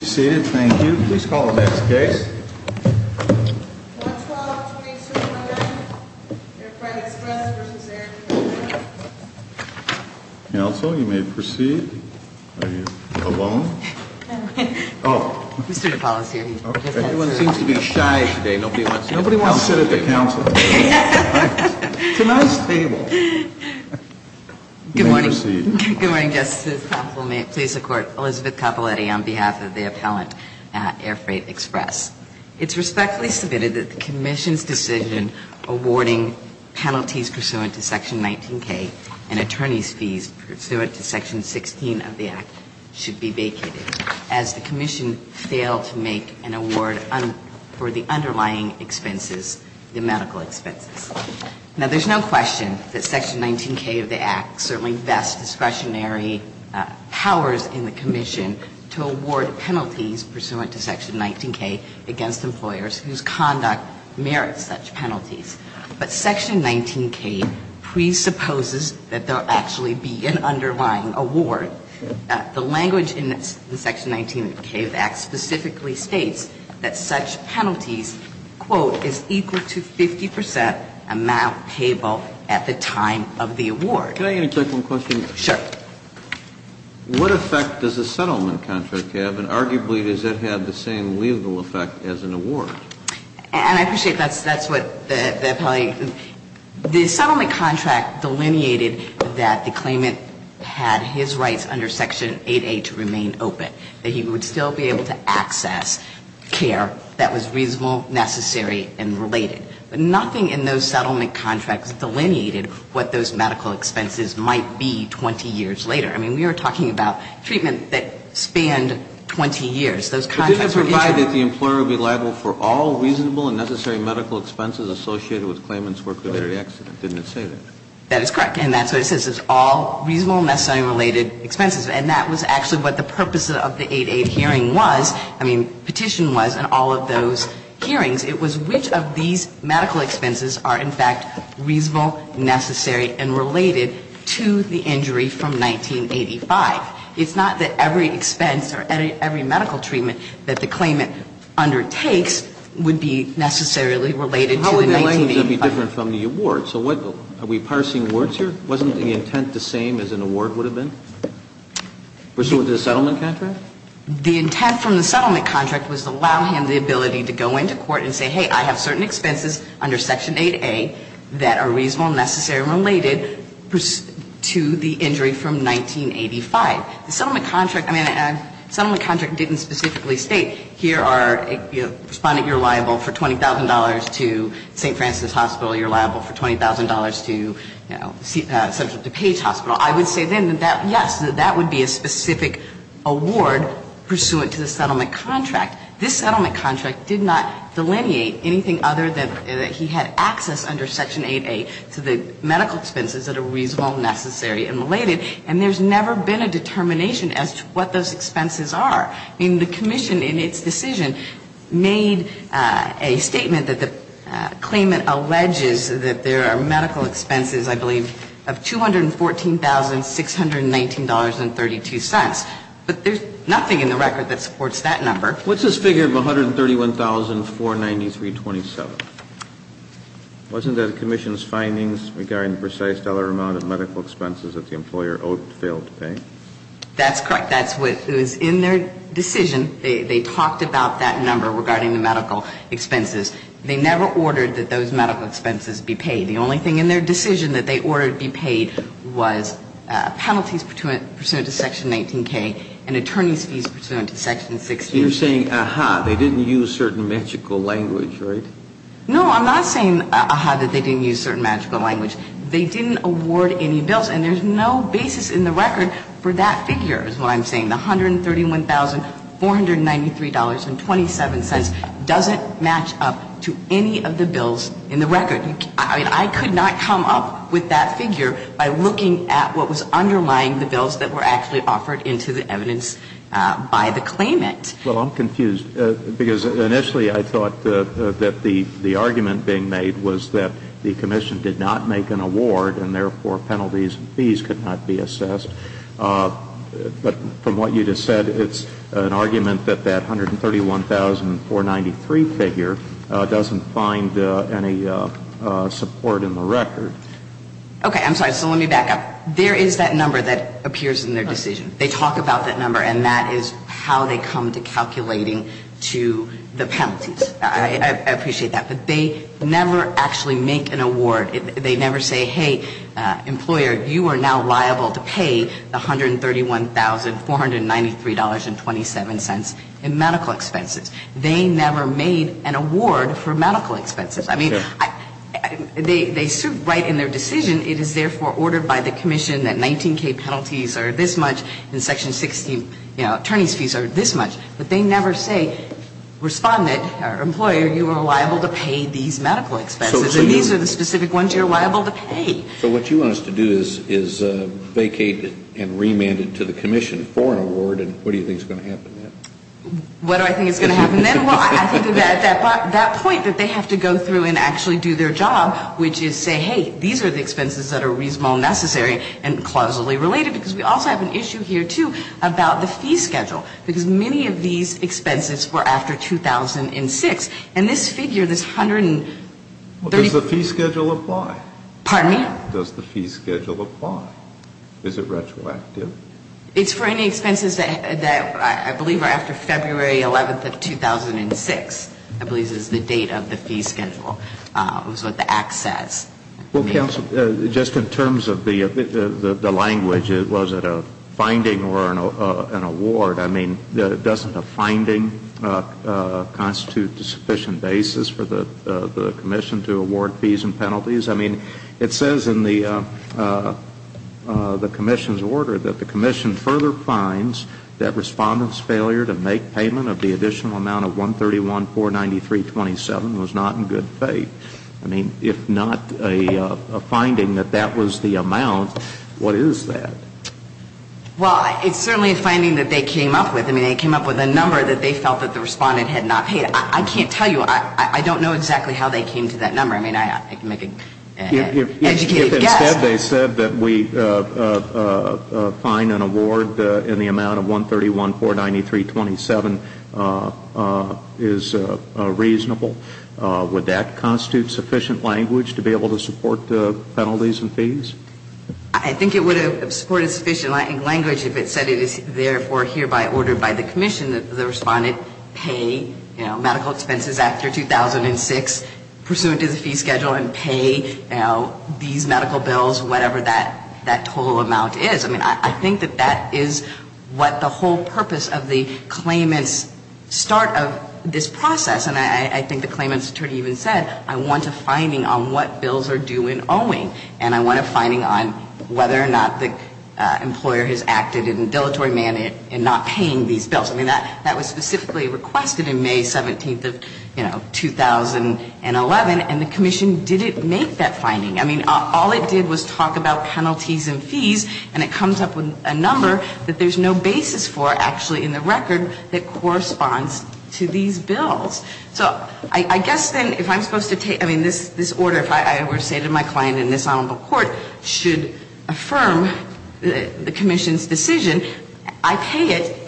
Council, you may proceed. Are you alone? Mr. DePaulo is here. Everyone seems to be shy today. Nobody wants to sit at the Council. It's a nice table. Good morning. Good morning, Justice. Please support Elizabeth Capoletti on behalf of the appellant at Air Freight Express. It's respectfully submitted that the Commission's decision awarding penalties pursuant to Section 19K and attorneys' fees pursuant to Section 16 of the Act should be vacated as the Commission failed to make an award for the underlying expenses, the medical expenses. Now, there's no question that Section 19K of the Act certainly vests discretionary powers in the Commission to award penalties pursuant to Section 19K against employers whose conduct merits such penalties. But Section 19K presupposes that there'll actually be an underlying award. The language in Section 19 of the Act specifically states that such penalties, quote, is equal to 50 percent amount payable at the time of the award. Can I get a quick one question? Sure. What effect does a settlement contract have, and arguably, does it have the same legal effect as an award? And I appreciate that's what the appellee – the settlement contract delineated that the claimant had his rights under Section 8A to remain open, that he would still be able to access care that was reasonable, necessary, and related. But nothing in those settlement contracts delineated what those medical expenses might be 20 years later. I mean, we are talking about treatment that spanned 20 years. Those contracts were interim. So you're saying that the employer would be liable for all reasonable and necessary medical expenses associated with a claimant's work-related accident. Didn't it say that? That is correct. And that's what it says. It's all reasonable, necessary, and related expenses. And that was actually what the purpose of the 8-8 hearing was – I mean, petition was in all of those hearings. It was which of these medical expenses are, in fact, reasonable, necessary, and related to the injury from 1985. It's not that every expense or every medical treatment that the claimant undertakes would be necessarily related to the 1985. How would the language be different from the award? So what – are we parsing words here? Wasn't the intent the same as an award would have been pursuant to the settlement contract? The intent from the settlement contract was to allow him the ability to go into court and say, hey, I have certain expenses under Section 8A that are reasonable, necessary, and related to the injury from 1985. The settlement contract – I mean, the settlement contract didn't specifically state, here are – respondent, you're liable for $20,000 to St. Francis Hospital. You're liable for $20,000 to, you know, Central DuPage Hospital. I would say then that, yes, that would be a specific award pursuant to the settlement contract. This settlement contract did not delineate anything other than that he had access under Section 8A to the medical expenses that are reasonable, necessary, and related. And there's never been a determination as to what those expenses are. I mean, the Commission, in its decision, made a statement that the claimant alleges that there are medical expenses, I believe, of $214,619.32. But there's nothing in the record that supports that number. What's this figure of $131,493.27? Wasn't that the Commission's findings regarding the precise dollar amount of medical expenses that the employer owed, failed to pay? That's correct. That's what – it was in their decision. They talked about that number regarding the medical expenses. They never ordered that those medical expenses be paid. The only thing in their decision that they ordered be paid was penalties pursuant to Section 19K and attorney's fees pursuant to Section 16. So you're saying, ah-ha, they didn't use certain magical language, right? No, I'm not saying, ah-ha, that they didn't use certain magical language. They didn't award any bills, and there's no basis in the record for that figure is what I'm saying. The $131,493.27 doesn't match up to any of the bills in the record. I could not come up with that figure by looking at what was underlying the bills that were actually offered into the evidence by the claimant. Well, I'm confused because initially I thought that the argument being made was that the Commission did not make an award and therefore penalties and fees could not be assessed. But from what you just said, it's an argument that that $131,493 figure doesn't find any support in the record. Okay. I'm sorry. So let me back up. There is that number that appears in their decision. They talk about that number, and that is how they come to calculating to the penalties. I appreciate that. But they never actually make an award. They never say, hey, employer, you are now liable to pay the $131,493.27 in medical expenses. They never made an award for medical expenses. I mean, they suit right in their decision. It is therefore ordered by the Commission that 19K penalties are this much and Section 16, you know, attorney's fees are this much. But they never say, respondent or employer, you are liable to pay these medical expenses. And these are the specific ones you are liable to pay. So what you want us to do is vacate and remand it to the Commission for an award. And what do you think is going to happen then? What do I think is going to happen then? Well, I think that point that they have to go through and actually do their job, which is say, hey, these are the expenses that are reasonable, necessary, and clausally related. Because we also have an issue here, too, about the fee schedule. Because many of these expenses were after 2006. And this figure, this 130 ---- Well, does the fee schedule apply? Pardon me? Does the fee schedule apply? Is it retroactive? It's for any expenses that I believe are after February 11th of 2006, I believe is the date of the fee schedule. It was what the Act says. Well, counsel, just in terms of the language, was it a finding or an award? I mean, doesn't a finding constitute a sufficient basis for the Commission to award fees and penalties? I mean, it says in the Commission's order that the Commission further finds that respondents' failure to make payment of the additional amount of 131,493.27 was not in good faith. I mean, if not a finding that that was the amount, what is that? Well, it's certainly a finding that they came up with. I mean, they came up with a number that they felt that the respondent had not paid. I can't tell you. I don't know exactly how they came to that number. I mean, I can make an educated guess. If instead they said that we find an award in the amount of 131,493.27 is reasonable, I think it would have supported sufficient language if it said it is therefore hereby ordered by the Commission that the respondent pay medical expenses after 2006 pursuant to the fee schedule and pay these medical bills, whatever that total amount is. I mean, I think that that is what the whole purpose of the claimant's start of this process, and I think the claimant's attorney even said, I want a finding on what bills are due in owing, and I want a finding on whether or not the employer has acted in dilatory manner in not paying these bills. I mean, that was specifically requested in May 17th of, you know, 2011, and the Commission didn't make that finding. I mean, all it did was talk about penalties and fees, and it comes up with a number that there's no basis for, actually, in the record that corresponds to these bills. So I guess then if I'm supposed to take, I mean, this order, if I were to say to my client in this Honorable Court, should affirm the Commission's decision, I pay it,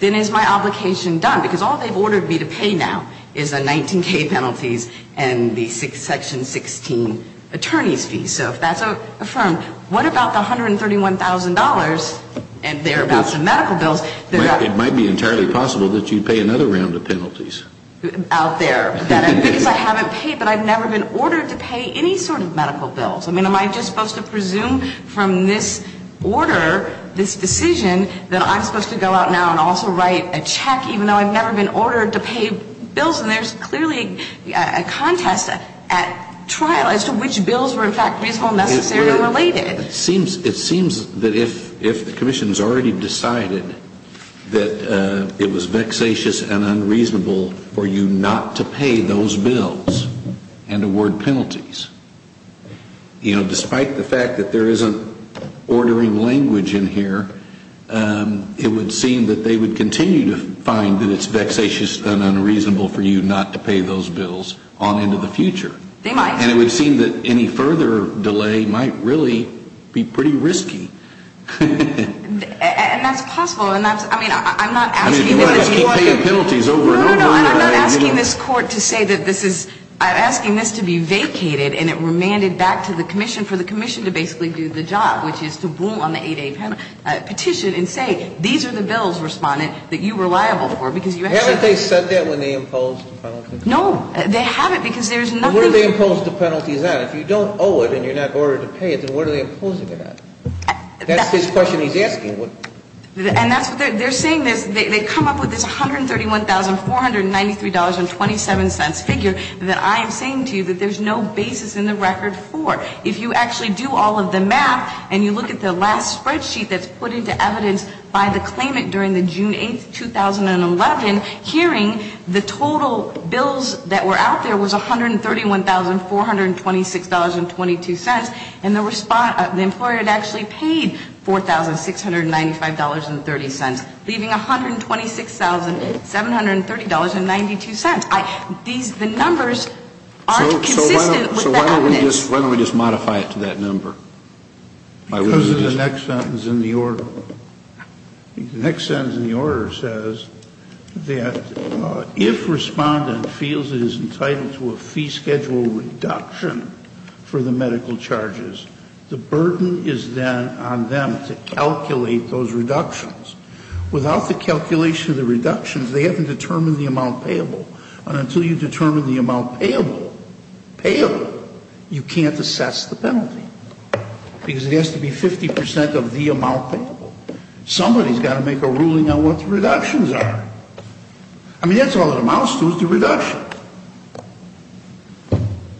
then is my obligation done? Because all they've ordered me to pay now is the 19K penalties and the Section 16 attorney's fees. So if that's affirmed, what about the $131,000 and thereabouts of medical bills? It might be entirely possible that you'd pay another round of penalties. Out there. Because I haven't paid, but I've never been ordered to pay any sort of medical bills. I mean, am I just supposed to presume from this order, this decision, that I'm supposed to go out now and also write a check even though I've never been ordered to pay bills? And there's clearly a contest at trial as to which bills were, in fact, reasonable, necessary, or related. It seems that if the Commission's already decided that it was vexatious and unreasonable for you not to pay those bills and award penalties, you know, despite the fact that there isn't ordering language in here, it would seem that they would continue to find that it's vexatious and unreasonable for you not to pay those bills on into the future. They might. And it would seem that any further delay might really be pretty risky. And that's possible. I mean, I'm not asking this Court to say that this is, I'm asking this to be vacated and it remanded back to the Commission for the Commission to basically do the job, which is to rule on the 8A petition and say, these are the bills, Respondent, that you were liable for because you actually Haven't they said that when they imposed the penalty? No. They haven't because there's nothing What do they impose the penalties on? If you don't owe it and you're not ordered to pay it, then what are they imposing it on? That's his question he's asking. And that's what they're saying. They come up with this $131,493.27 figure that I am saying to you that there's no basis in the record for. If you actually do all of the math and you look at the last spreadsheet that's put into evidence by the claimant during the June 8, 2011 hearing, the total bills that were out there was $131,426.22, and the employer had actually paid $4,695.30, leaving $126,730.92. The numbers aren't consistent with the evidence. So why don't we just modify it to that number? Because of the next sentence in the order. The next sentence in the order says that if respondent feels it is entitled to a fee schedule reduction for the medical charges, the burden is then on them to calculate those reductions. Without the calculation of the reductions, they haven't determined the amount payable. And until you determine the amount payable, payable, you can't assess the penalty. Because it has to be 50% of the amount payable. Somebody's got to make a ruling on what the reductions are. I mean, that's all it amounts to is the reduction.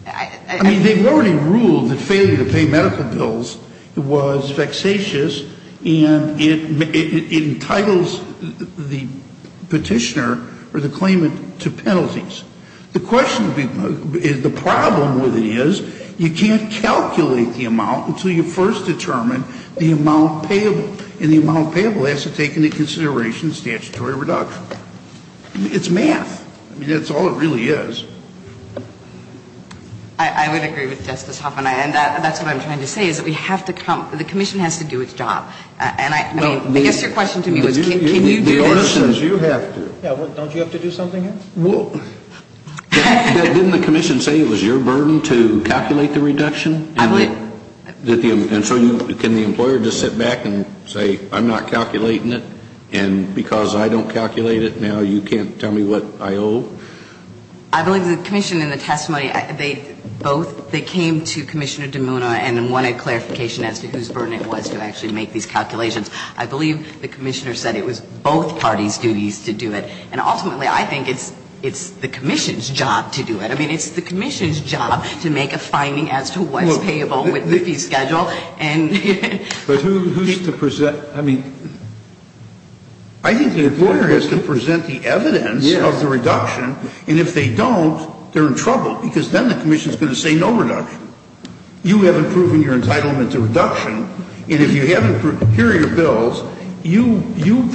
I mean, they've already ruled that failure to pay medical bills was vexatious, and it entitles the petitioner or the claimant to penalties. The problem with it is you can't calculate the amount until you first determine the amount payable, and the amount payable has to take into consideration statutory reduction. It's math. I mean, that's all it really is. I would agree with Justice Hoffman. And that's what I'm trying to say is that we have to come, the commission has to do its job. And I mean, I guess your question to me was can you do this? The order says you have to. Yeah, well, don't you have to do something else? Well, didn't the commission say it was your burden to calculate the reduction? And so can the employer just sit back and say, I'm not calculating it, and because I don't calculate it now, you can't tell me what I owe? I believe the commission in the testimony, they both, they came to Commissioner DeMuna and wanted clarification as to whose burden it was to actually make these calculations. I believe the commissioner said it was both parties' duties to do it. And ultimately, I think it's the commission's job to do it. I mean, it's the commission's job to make a finding as to what's payable with the fee schedule. But who's to present? I mean. I think the employer has to present the evidence of the reduction. And if they don't, they're in trouble because then the commission is going to say no reduction. You haven't proven your entitlement to reduction. And if you haven't prepared your bills, you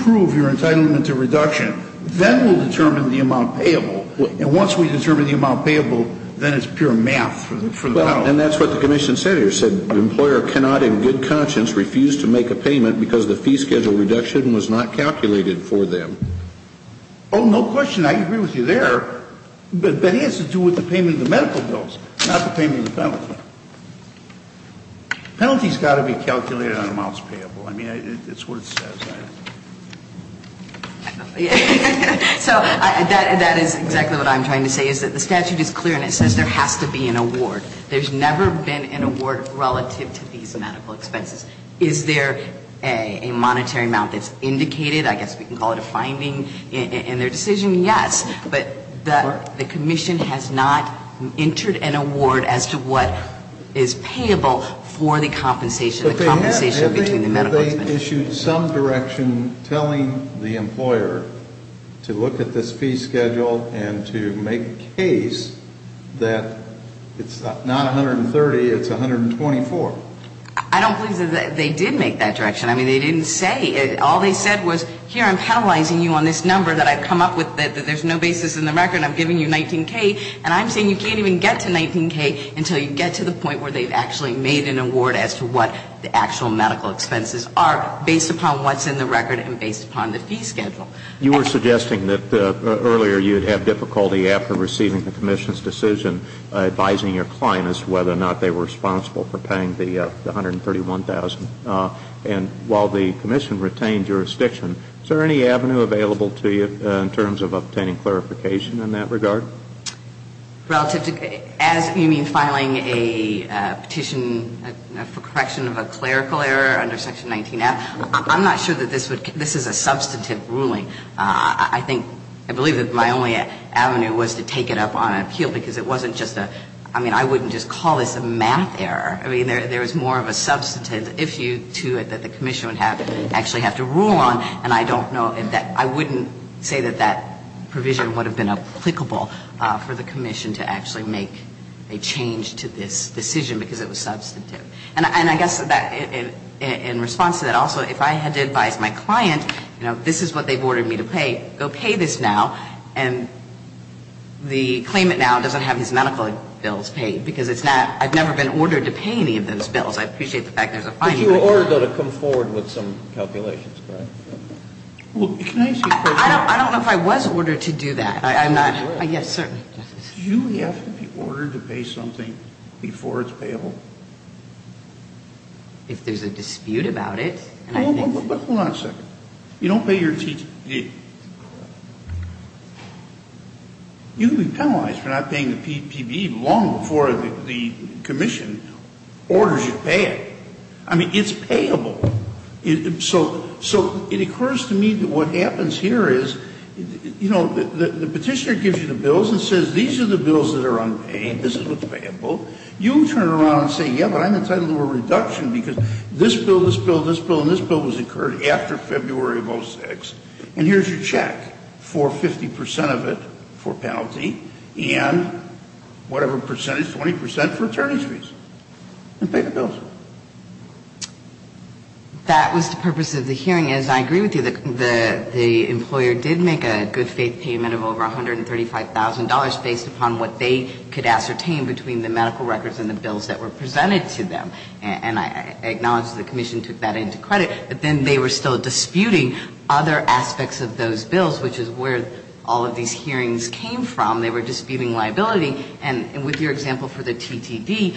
prove your entitlement to reduction. Then we'll determine the amount payable. And once we determine the amount payable, then it's pure math for them. And that's what the commission said here. It said the employer cannot in good conscience refuse to make a payment because the fee schedule reduction was not calculated for them. Oh, no question. I agree with you there. But that has to do with the payment of the medical bills, not the payment of the penalty. Penalty's got to be calculated on amounts payable. I mean, it's what it says. So that is exactly what I'm trying to say is that the statute is clear and it says there has to be an award. There's never been an award relative to these medical expenses. Is there a monetary amount that's indicated? I guess we can call it a finding in their decision. Yes. But the commission has not entered an award as to what is payable for the compensation, the compensation between the medical expenses. They issued some direction telling the employer to look at this fee schedule and to make a case that it's not $130, it's $124. I don't believe they did make that direction. I mean, they didn't say it. All they said was, here, I'm penalizing you on this number that I've come up with, that there's no basis in the record, I'm giving you $19K, and I'm saying you can't even get to $19K until you get to the point where they've actually made an award as to what the actual medical expenses are based upon what's in the record and based upon the fee schedule. You were suggesting that earlier you would have difficulty after receiving the commission's decision advising your client as to whether or not they were responsible for paying the $131,000. And while the commission retained jurisdiction, is there any avenue available to you in terms of obtaining clarification in that regard? So relative to as you mean filing a petition for correction of a clerical error under Section 19-F, I'm not sure that this is a substantive ruling. I think, I believe that my only avenue was to take it up on an appeal because it wasn't just a, I mean, I wouldn't just call this a math error. I mean, there is more of a substantive issue to it that the commission would actually have to rule on, and I don't know, I wouldn't say that that provision would have been applicable for the commission to actually make a change to this decision because it was substantive. And I guess in response to that also, if I had to advise my client, you know, this is what they've ordered me to pay, go pay this now, and the claimant now doesn't have his medical bills paid because it's not, I've never been ordered to pay any of those bills. I appreciate the fact there's a fine here. But you were ordered, though, to come forward with some calculations, correct? Well, can I ask you a question? I don't know if I was ordered to do that. I'm not. Yes, sir. Do you have to be ordered to pay something before it's payable? If there's a dispute about it, I think. Hold on a second. You don't pay your T.T.D. You'd be penalized for not paying the P.P.B. long before the commission orders you to pay it. I mean, it's payable. So it occurs to me that what happens here is, you know, the petitioner gives you the bills and says these are the bills that are unpaid, this is what's payable. You turn around and say, yeah, but I'm entitled to a reduction because this bill, this bill, this bill, and this bill was incurred after February of 2006, and here's your check for 50% of it for penalty and whatever percentage, 20% for attorney's fees. And pay the bills. That was the purpose of the hearing. As I agree with you, the employer did make a good faith payment of over $135,000 based upon what they could ascertain between the medical records and the bills that were presented to them. And I acknowledge the commission took that into credit, but then they were still disputing other aspects of those bills, which is where all of these hearings came from. They were disputing liability. And with your example for the TTD,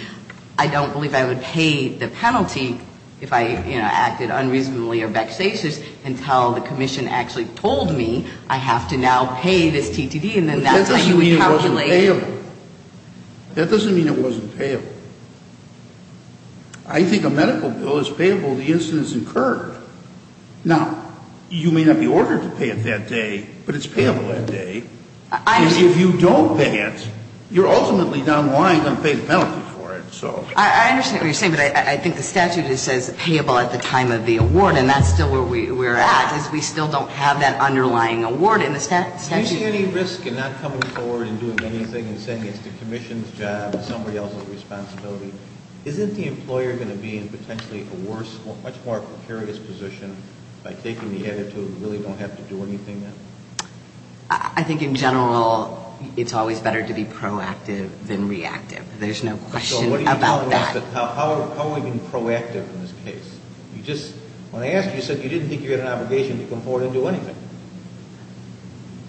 I don't believe I would pay the penalty if I, you know, acted unreasonably or vexatious until the commission actually told me I have to now pay this TTD and then that's how you would calculate. But that doesn't mean it wasn't payable. That doesn't mean it wasn't payable. I think a medical bill is payable the instance it's incurred. Now, you may not be ordered to pay it that day, but it's payable that day. If you don't pay it, you're ultimately down lying and going to pay the penalty for it, so. I understand what you're saying, but I think the statute says payable at the time of the award, and that's still where we're at is we still don't have that underlying award in the statute. Do you see any risk in not coming forward and doing anything and saying it's the commission's job and somebody else's responsibility? Isn't the employer going to be in potentially a worse or much more precarious position by taking the attitude and really don't have to do anything then? I think in general it's always better to be proactive than reactive. There's no question about that. So what are you telling us? How are we being proactive in this case? When I asked you, you said you didn't think you had an obligation to come forward and do anything.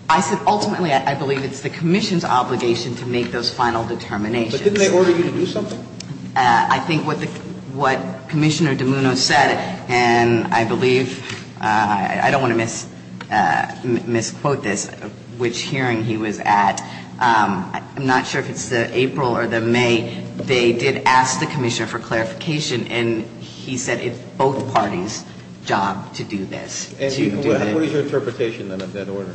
I said ultimately I believe it's the commission's obligation to make those final determinations. But didn't they order you to do something? I think what Commissioner DiMuno said, and I believe, I don't want to misquote this, which hearing he was at, I'm not sure if it's the April or the May, they did ask the commissioner for clarification, and he said it's both parties' job to do this. What is your interpretation of that order?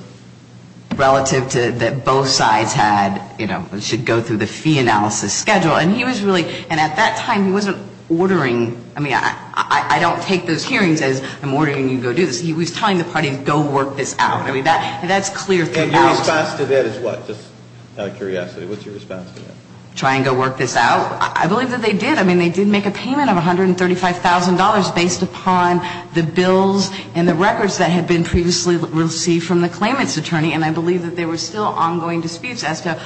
Relative to that both sides had, you know, should go through the fee analysis schedule. And he was really, and at that time he wasn't ordering, I mean, I don't take those hearings as I'm ordering you to go do this. He was telling the parties go work this out. I mean, that's clear through the analysis. And your response to that is what? Just out of curiosity, what's your response to that? Try and go work this out. I believe that they did. I mean, they did make a payment of $135,000 based upon the bills and the records that had been previously received from the claimant's attorney. And I believe that there were still ongoing disputes as to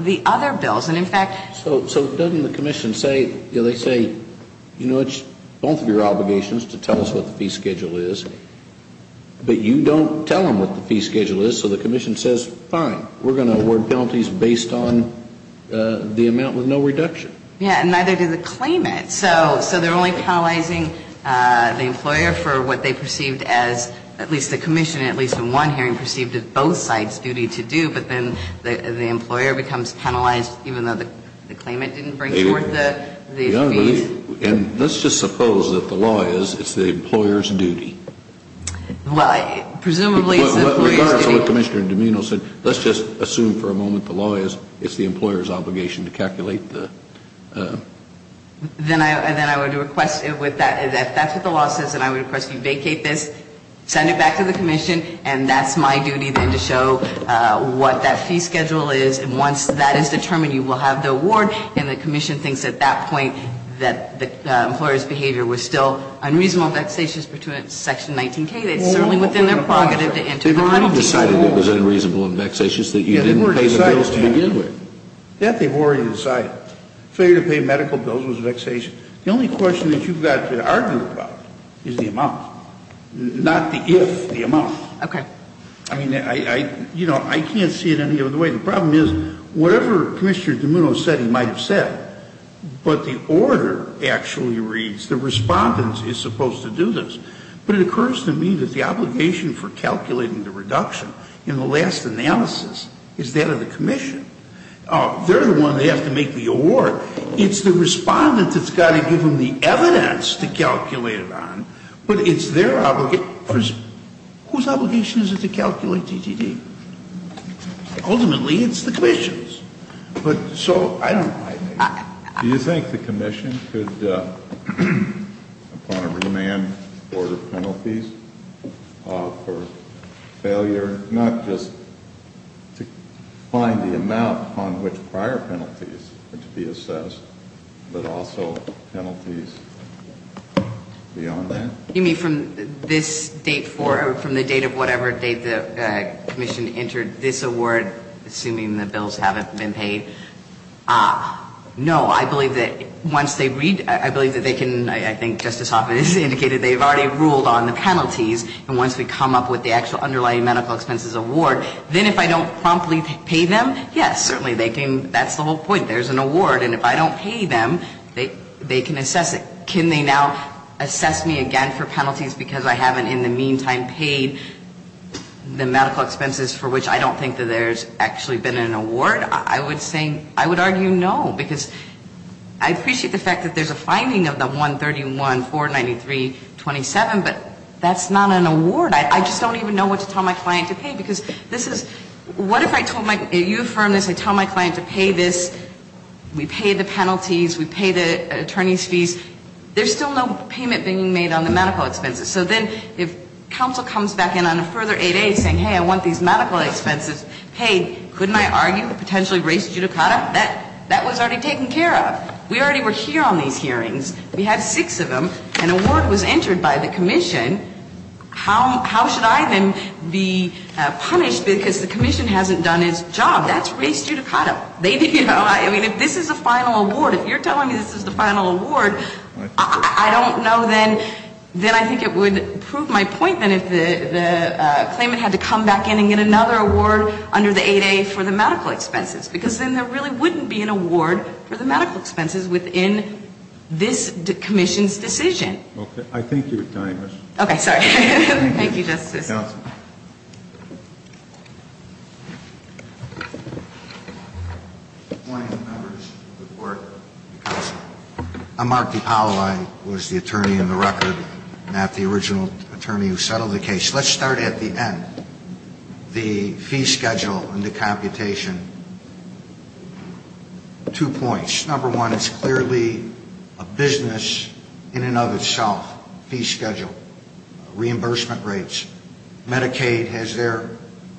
the other bills. And, in fact, So doesn't the commission say, you know, they say, you know, it's both of your obligations to tell us what the fee schedule is. But you don't tell them what the fee schedule is. So the commission says, fine, we're going to award penalties based on the amount with no reduction. Yeah, and neither did the claimant. So they're only penalizing the employer for what they perceived as, at least the commission, at least in one hearing, perceived as both sides' duty to do. But then the employer becomes penalized even though the claimant didn't bring forth the fees. And let's just suppose that the law is it's the employer's duty. Well, presumably it's the employer's duty. With regards to what Commissioner DiMino said, let's just assume for a moment the law is it's the employer's obligation to calculate the Then I would request, if that's what the law says, then I would request you vacate this, send it back to the commission, and that's my duty then to show what that fee schedule is. And once that is determined, you will have the award. And the commission thinks at that point that the employer's behavior was still unreasonable, vexatious, pertinent to Section 19K. It's certainly within their prerogative to enter the penalties. They've already decided it was unreasonable and vexatious that you didn't pay the bills to begin with. Yeah, they've already decided. Failure to pay medical bills was vexatious. The only question that you've got to argue about is the amount, not the if, the amount. Okay. I mean, I can't see it any other way. The problem is whatever Commissioner DiMino said he might have said, but the order actually reads the respondent is supposed to do this. But it occurs to me that the obligation for calculating the reduction in the last analysis is that of the commission. They're the one that has to make the award. It's the respondent that's got to give them the evidence to calculate it on, but it's their obligation. Whose obligation is it to calculate DTD? Ultimately, it's the commission's. But so I don't know. Do you think the commission could, upon a remand, order penalties for failure, not just to find the amount upon which prior penalties are to be assessed, but also penalties beyond that? You mean from this date forward, from the date of whatever date the commission entered this award, assuming the bills haven't been paid? No. I believe that once they read, I believe that they can, I think Justice Hoffman has indicated they've already ruled on the penalties. And once we come up with the actual underlying medical expenses award, then if I don't promptly pay them, yes, certainly they can. That's the whole point. There's an award. And if I don't pay them, they can assess it. Can they now assess me again for penalties because I haven't in the meantime paid the medical expenses for which I don't think that there's actually been an award? I would say, I would argue no, because I appreciate the fact that there's a finding of the 131, 493, 27, but that's not an award. I just don't even know what to tell my client to pay, because this is, what if I told my, you affirmed this, I tell my client to pay this, we pay the penalties, we pay the attorney's fees, there's still no payment being made on the medical expenses. So then if counsel comes back in on a further 8A saying, hey, I want these medical expenses paid, couldn't I argue potentially race judicata? That was already taken care of. We already were here on these hearings. We had six of them. An award was entered by the commission. How should I then be punished because the commission hasn't done its job? That's race judicata. They didn't know. I mean, if this is a final award, if you're telling me this is the final award, I don't know then, then I think it would prove my point then if the claimant had to come back in and get another award under the 8A for the medical expenses, because then there really wouldn't be an award for the medical expenses within this commission's decision. Okay. Okay. Sorry. Thank you, Justice. Counsel. Good morning, members of the board. I'm Mark DiPaola. I was the attorney in the record, not the original attorney who settled the case. Let's start at the end. The fee schedule and the computation, two points. Number one, it's clearly a business in and of itself, fee schedule. Reimbursement rates. Medicaid has their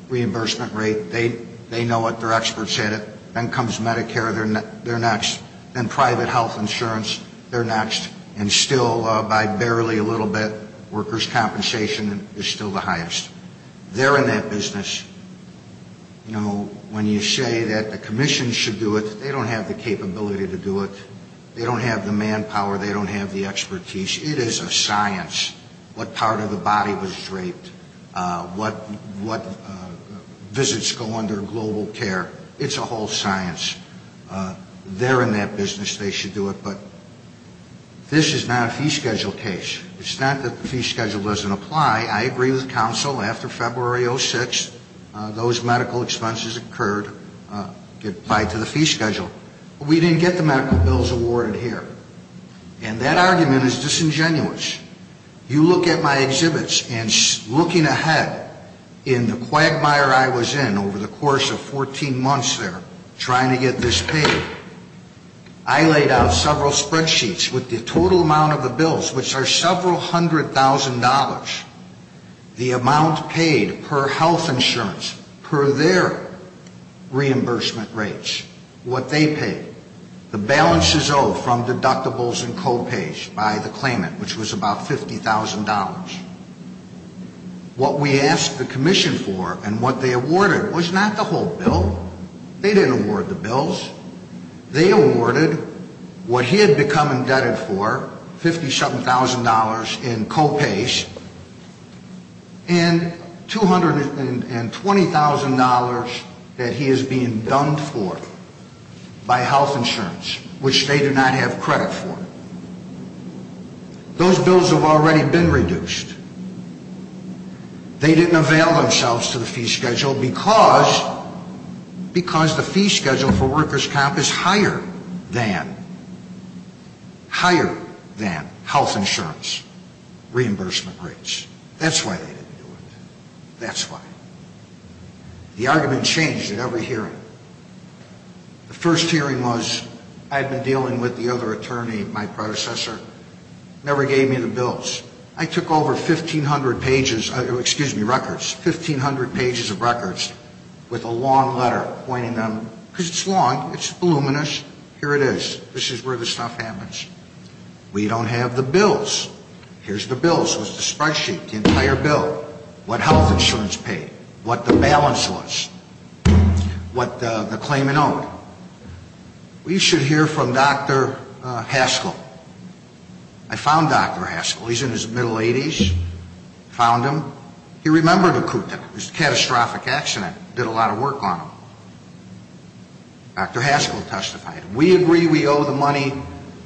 reimbursement rate. They know it. They're experts at it. Then comes Medicare. They're next. Then private health insurance. They're next. And still, by barely a little bit, workers' compensation is still the highest. They're in that business. You know, when you say that the commission should do it, they don't have the capability to do it. They don't have the manpower. They don't have the expertise. It is a science what part of the body was draped, what visits go under global care. It's a whole science. They're in that business. They should do it. But this is not a fee schedule case. It's not that the fee schedule doesn't apply. I agree with counsel. After February 06, those medical expenses occurred, applied to the fee schedule. We didn't get the medical bills awarded here. And that argument is disingenuous. You look at my exhibits, and looking ahead in the quagmire I was in over the course of 14 months there trying to get this paid, I laid out several spreadsheets with the total amount of the bills, which are several hundred thousand dollars, the amount paid per health insurance, per their reimbursement rates, what they paid, the balances owed from deductibles and co-pays by the claimant, which was about $50,000. What we asked the commission for and what they awarded was not the whole bill. They didn't award the bills. They awarded what he had become indebted for, $57,000 in co-pays, and $220,000 that he is being done for by health insurance, which they do not have credit for. Those bills have already been reduced. They didn't avail themselves to the fee schedule because the fee schedule for workers' comp is higher than, higher than health insurance reimbursement rates. That's why they didn't do it. That's why. The argument changed at every hearing. The first hearing was I had been dealing with the other attorney, my predecessor, never gave me the bills. I took over 1,500 pages, excuse me, records, 1,500 pages of records with a long letter pointing them, because it's long, it's voluminous, here it is. This is where the stuff happens. We don't have the bills. Here's the bills. Here's the spreadsheet, the entire bill, what health insurance paid, what the balance was, what the claimant owed. We should hear from Dr. Haskell. I found Dr. Haskell. He's in his middle 80s. Found him. He remembered Akuta. It was a catastrophic accident. Did a lot of work on him. Dr. Haskell testified. We agree we owe the money,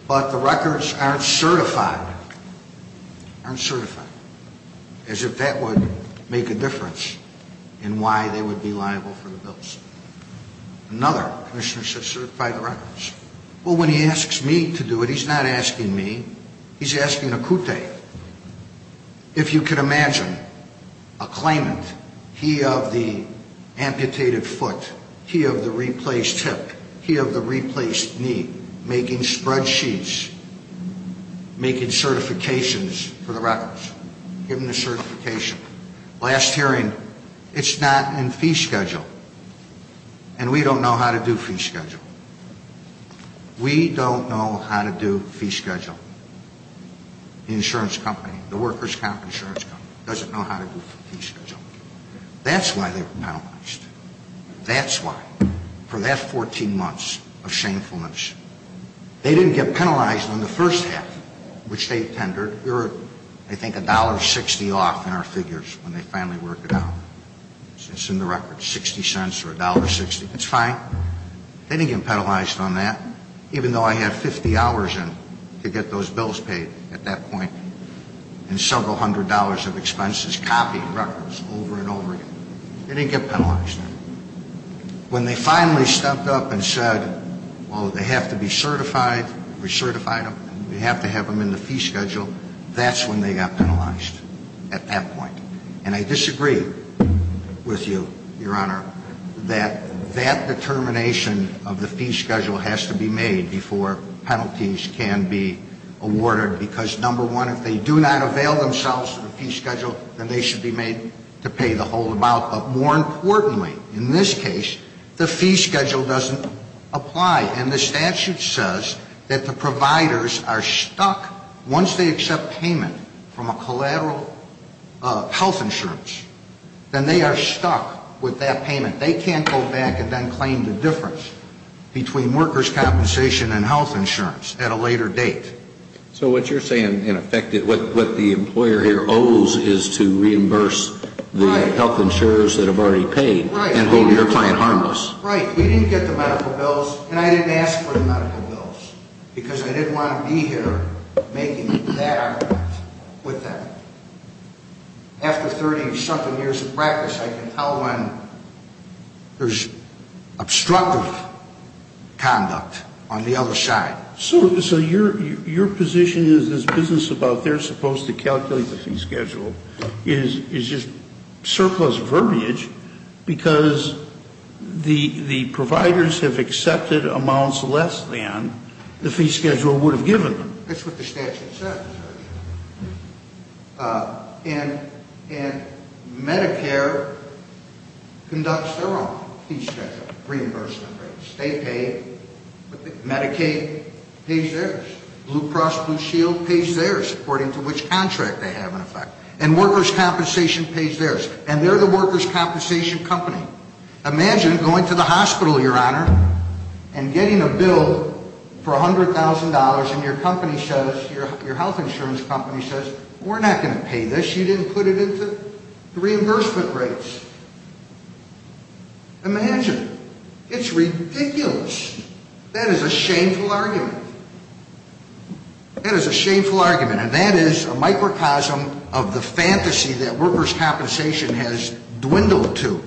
but the records aren't certified. Aren't certified. As if that would make a difference in why they would be liable for the bills. Another commissioner said certify the records. Well, when he asks me to do it, he's not asking me. He's asking Akuta. If you could imagine a claimant, he of the amputated foot, he of the replaced hip, he of the replaced knee, making spreadsheets, making certifications for the records. Giving the certification. Last hearing, it's not in fee schedule. And we don't know how to do fee schedule. We don't know how to do fee schedule. The insurance company, the workers' comp insurance company, doesn't know how to do fee schedule. That's why they were penalized. That's why. For that 14 months of shamefulness. They didn't get penalized in the first half, which they tendered. They were, I think, $1.60 off in our figures when they finally worked it out. It's in the records. $0.60 or $1.60. It's fine. They didn't get penalized on that, even though I had 50 hours in to get those bills paid at that point. And several hundred dollars of expenses copied records over and over again. They didn't get penalized. When they finally stepped up and said, well, they have to be certified, we certified them, we have to have them in the fee schedule, that's when they got penalized. At that point. And I disagree with you, Your Honor, that that determination of the fee schedule has to be made before penalties can be awarded. Because, number one, if they do not avail themselves of the fee schedule, then they should be made to pay the whole amount. But more importantly, in this case, the fee schedule doesn't apply. And the statute says that the providers are stuck, once they accept payment from a collateral health insurance, then they are stuck with that payment. They can't go back and then claim the difference between workers' compensation and health insurance at a later date. So what you're saying, in effect, is what the employer here owes is to reimburse the health insurers that have already paid and hold your client harmless. Right. We didn't get the medical bills, and I didn't ask for the medical bills. Because I didn't want to be here making that argument with them. After 30-something years of practice, I can tell when there's obstructive conduct on the other side. So your position is this business about they're supposed to calculate the fee schedule is just surplus verbiage because the providers have accepted amounts less than the fee schedule would have given them. That's what the statute says. And Medicare conducts their own fee schedule, reimbursement rates. They pay. Medicaid pays theirs. Blue Cross Blue Shield pays theirs, according to which contract they have in effect. And workers' compensation pays theirs. And they're the workers' compensation company. Imagine going to the hospital, Your Honor, and getting a bill for $100,000, and your company says, your health insurance company says, we're not going to pay this. You didn't put it into the reimbursement rates. Imagine. It's ridiculous. That is a shameful argument. That is a shameful argument. And that is a microcosm of the fantasy that workers' compensation has dwindled to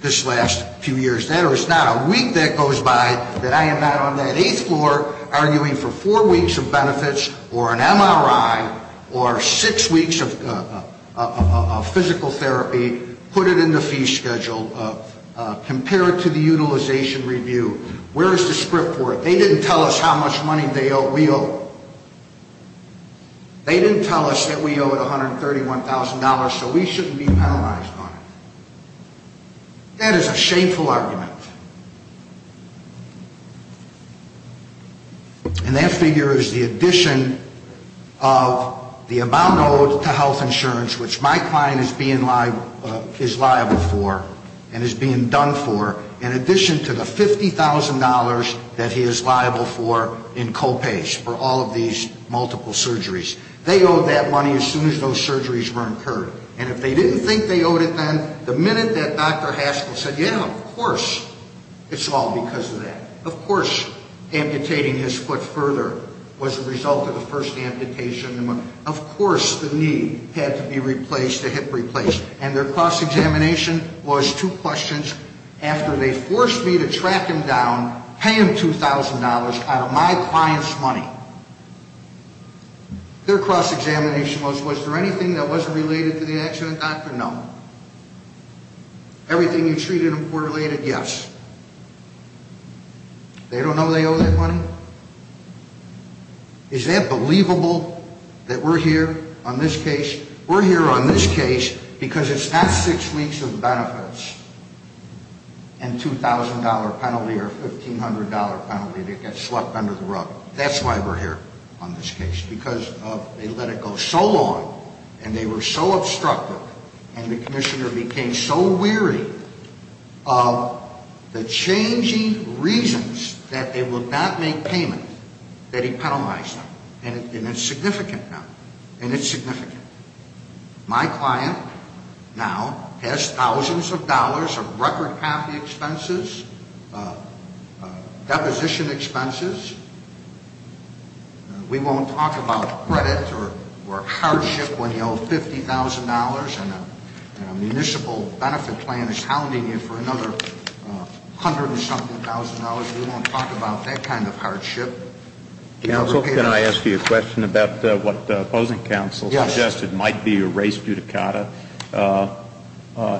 this last few years. That is not a week that goes by that I am not on that eighth floor arguing for four weeks of benefits or an MRI or six weeks of physical therapy, put it in the fee schedule, compare it to the utilization review. Where is the script for it? They didn't tell us how much money we owe. They didn't tell us that we owed $131,000, so we shouldn't be penalized on it. That is a shameful argument. And that figure is the addition of the amount owed to health insurance, which my client is being liable for and is being done for, in addition to the $50,000 that he is liable for in co-pays for all of these multiple surgeries. They owed that money as soon as those surgeries were incurred. And if they didn't think they owed it then, the minute that Dr. Haskell said, yeah, of course it's all because of that, of course amputating his foot further was the result of the first amputation, of course the knee had to be replaced, the hip replaced. And their cross-examination was two questions after they forced me to track him down, pay him $2,000 out of my client's money. Now, their cross-examination was, was there anything that wasn't related to the accident, doctor? No. Everything you treated him for related? Yes. They don't know they owe that money? Is that believable that we're here on this case? Because it's not six weeks of benefits and $2,000 penalty or $1,500 penalty that gets slucked under the rug. That's why we're here on this case, because they let it go so long and they were so obstructive and the commissioner became so weary of the changing reasons that they would not make payment that he penalized them. And it's significant now. And it's significant. My client now has thousands of dollars of record path expenses, deposition expenses. We won't talk about credit or hardship when you owe $50,000 and a municipal benefit plan is hounding you for another hundred and something thousand dollars. We won't talk about that kind of hardship. Counsel, can I ask you a question about what the opposing counsel suggested might be a race judicata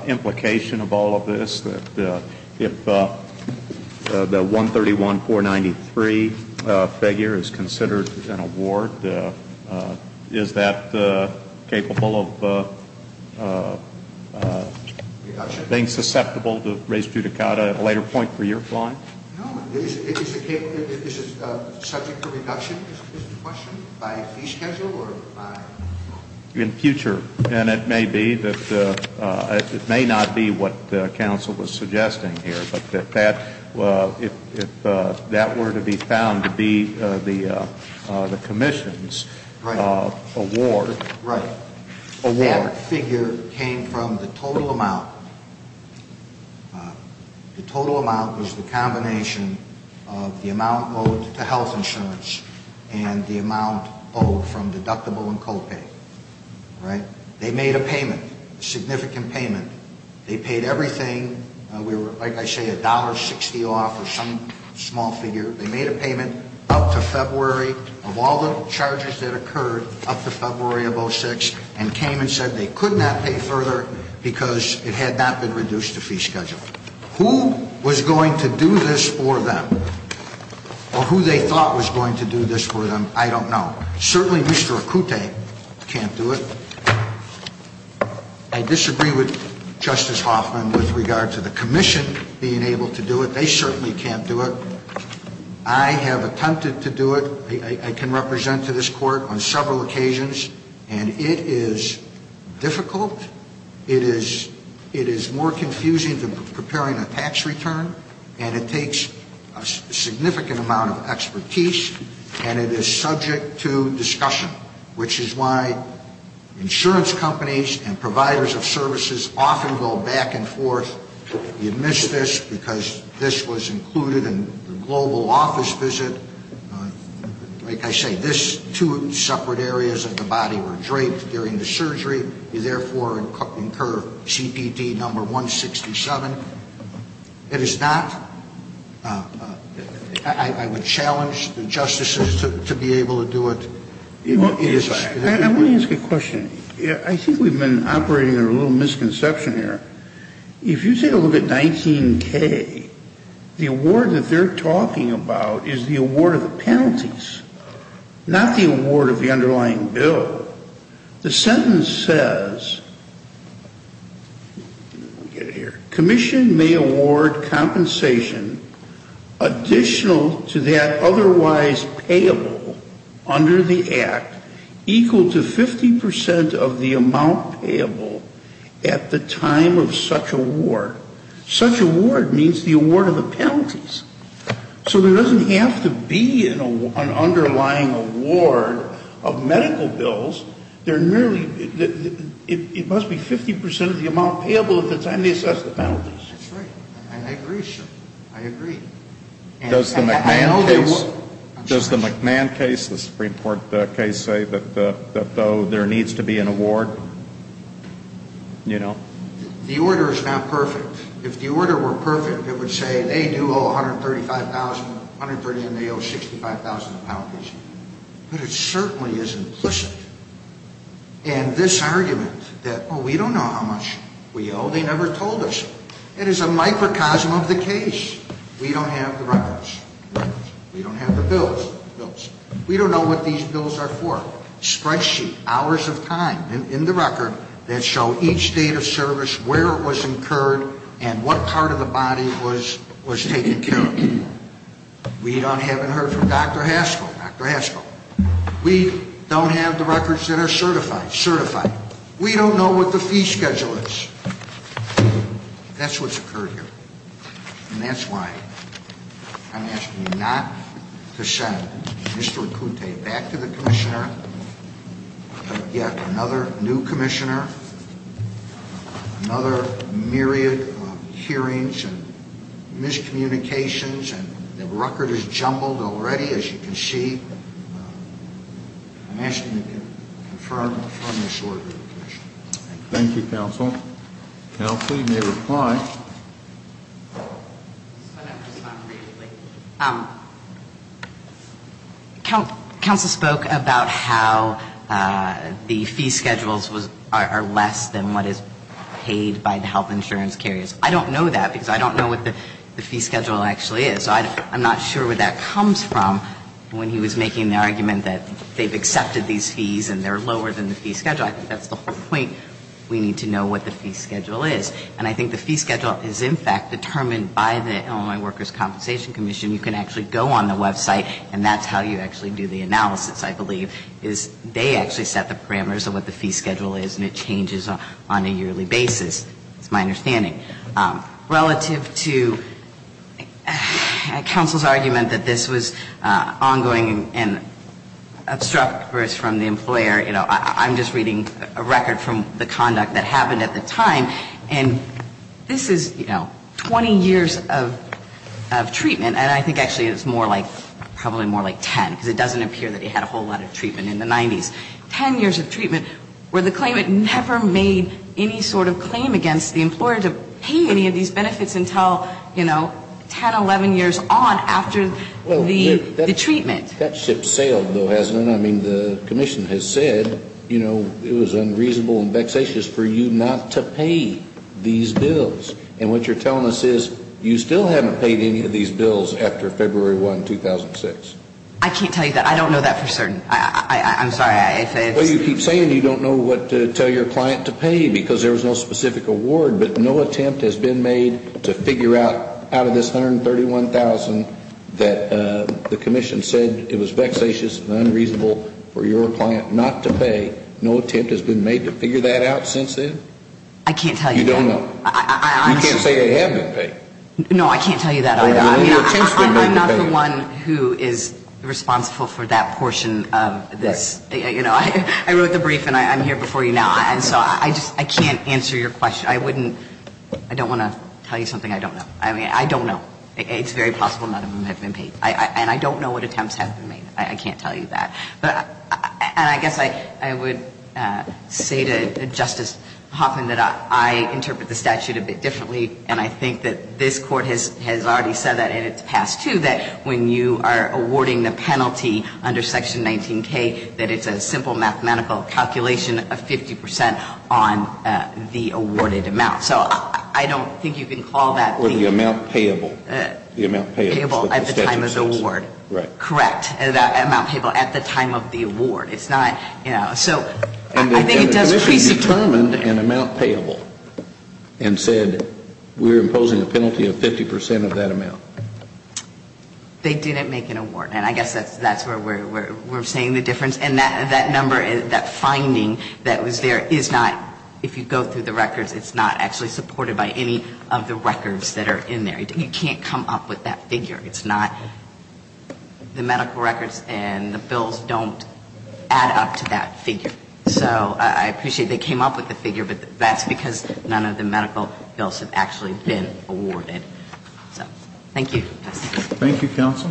implication of all of this? If the 131-493 figure is considered an award, is that capable of being susceptible to race judicata at a later point for your client? No. Is it subject to reduction, is the question, by fee schedule or by? In future. And it may be that it may not be what counsel was suggesting here, but if that were to be found to be the commission's award. Right. of the amount owed to health insurance and the amount owed from deductible and copay. Right. They made a payment, a significant payment. They paid everything. We were, like I say, $1.60 off or some small figure. They made a payment up to February of all the charges that occurred up to February of 06 and came and said they could not pay further because it had not been reduced to fee schedule. Who was going to do this for them or who they thought was going to do this for them, I don't know. Certainly Mr. Akute can't do it. I disagree with Justice Hoffman with regard to the commission being able to do it. They certainly can't do it. I have attempted to do it. I can represent to this court on several occasions. And it is difficult. It is more confusing than preparing a tax return. And it takes a significant amount of expertise. And it is subject to discussion, which is why insurance companies and providers of services often go back and forth. You miss this because this was included in the global office visit. Like I say, this two separate areas of the body were draped during the surgery. You, therefore, incur CPD number 167. It is not. I would challenge the justices to be able to do it. I want to ask a question. I think we've been operating under a little misconception here. If you take a look at 19K, the award that they're talking about is the award of the penalties, not the award of the underlying bill. The sentence says, commission may award compensation additional to that otherwise payable under the act equal to 50% of the amount payable at the time of such award. Such award means the award of the penalties. So there doesn't have to be an underlying award of medical bills. They're nearly, it must be 50% of the amount payable at the time they assess the penalties. That's right. And I agree, sir. I agree. Does the McMahon case, the Supreme Court case say that though there needs to be an award? You know? The order is not perfect. If the order were perfect, it would say they do owe 135,000, and they owe 65,000 in penalties. But it certainly is implicit. And this argument that, oh, we don't know how much we owe, they never told us. It is a microcosm of the case. We don't have the records. We don't have the bills. We don't know what these bills are for. Spreadsheet, hours of time in the record that show each date of service, where it was incurred, and what part of the body was taken care of. We haven't heard from Dr. Haskell. Dr. Haskell. We don't have the records that are certified. We don't know what the fee schedule is. That's what's occurred here. And that's why I'm asking you not to send Mr. Acute back to the commissioner, to get another new commissioner, another myriad of hearings and miscommunications, and the record is jumbled already, as you can see. I'm asking you to confirm this order to the commissioner. Thank you, counsel. Counsel, you may reply. Counsel spoke about how the fee schedules are less than what is paid by the health insurance carriers. I don't know that because I don't know what the fee schedule actually is. I'm not sure where that comes from when he was making the argument that they've accepted these fees and they're lower than the fee schedule. I think that's the whole point. We need to know what the fee schedule is. And I think the fee schedule is, in fact, determined by the Illinois Workers' Compensation Commission. You can actually go on the website, and that's how you actually do the analysis, I believe, is they actually set the parameters of what the fee schedule is, and it changes on a yearly basis. That's my understanding. Relative to counsel's argument that this was ongoing and obstructive from the employer, you know, I'm just reading a record from the conduct that happened at the time, and this is, you know, 20 years of treatment, and I think actually it's more like probably more like 10 because it doesn't appear that he had a whole lot of treatment in the 90s. Ten years of treatment where the claimant never made any sort of claim against the employer to pay any of these benefits until, you know, 10, 11 years on after the treatment. That ship sailed, though, hasn't it? I mean, the commission has said, you know, it was unreasonable and vexatious for you not to pay these bills. And what you're telling us is you still haven't paid any of these bills after February 1, 2006. I can't tell you that. I don't know that for certain. I'm sorry. Well, you keep saying you don't know what to tell your client to pay because there was no specific award, but no attempt has been made to figure out out of this $131,000 that the commission said it was vexatious and unreasonable for your client not to pay. No attempt has been made to figure that out since then? I can't tell you that. You don't know. You can't say they have been paid. No, I can't tell you that either. I mean, I'm not the one who is responsible for that portion of this. You know, I wrote the brief and I'm here before you now, and so I just can't answer your question. I wouldn't – I don't want to tell you something I don't know. I mean, I don't know. It's very possible none of them have been paid. And I don't know what attempts have been made. I can't tell you that. But – and I guess I would say to Justice Hoffman that I interpret the statute a bit differently, and I think that this Court has already said that in its past, too, that when you are awarding the penalty under Section 19K, that it's a simple mathematical calculation of 50 percent on the awarded amount. So I don't think you can call that the – Or the amount payable. The amount payable at the time of the award. Right. Correct. That amount payable at the time of the award. It's not – you know, so I think it does – And the Commission determined an amount payable and said, we're imposing a penalty of 50 percent of that amount. They didn't make an award. And I guess that's where we're saying the difference. And that number, that finding that was there, is not – if you go through the records, it's not actually supported by any of the records that are in there. You can't come up with that figure. It's not – the medical records and the bills don't add up to that figure. So I appreciate they came up with the figure, but that's because none of the medical bills have actually been awarded. So thank you. Thank you, counsel.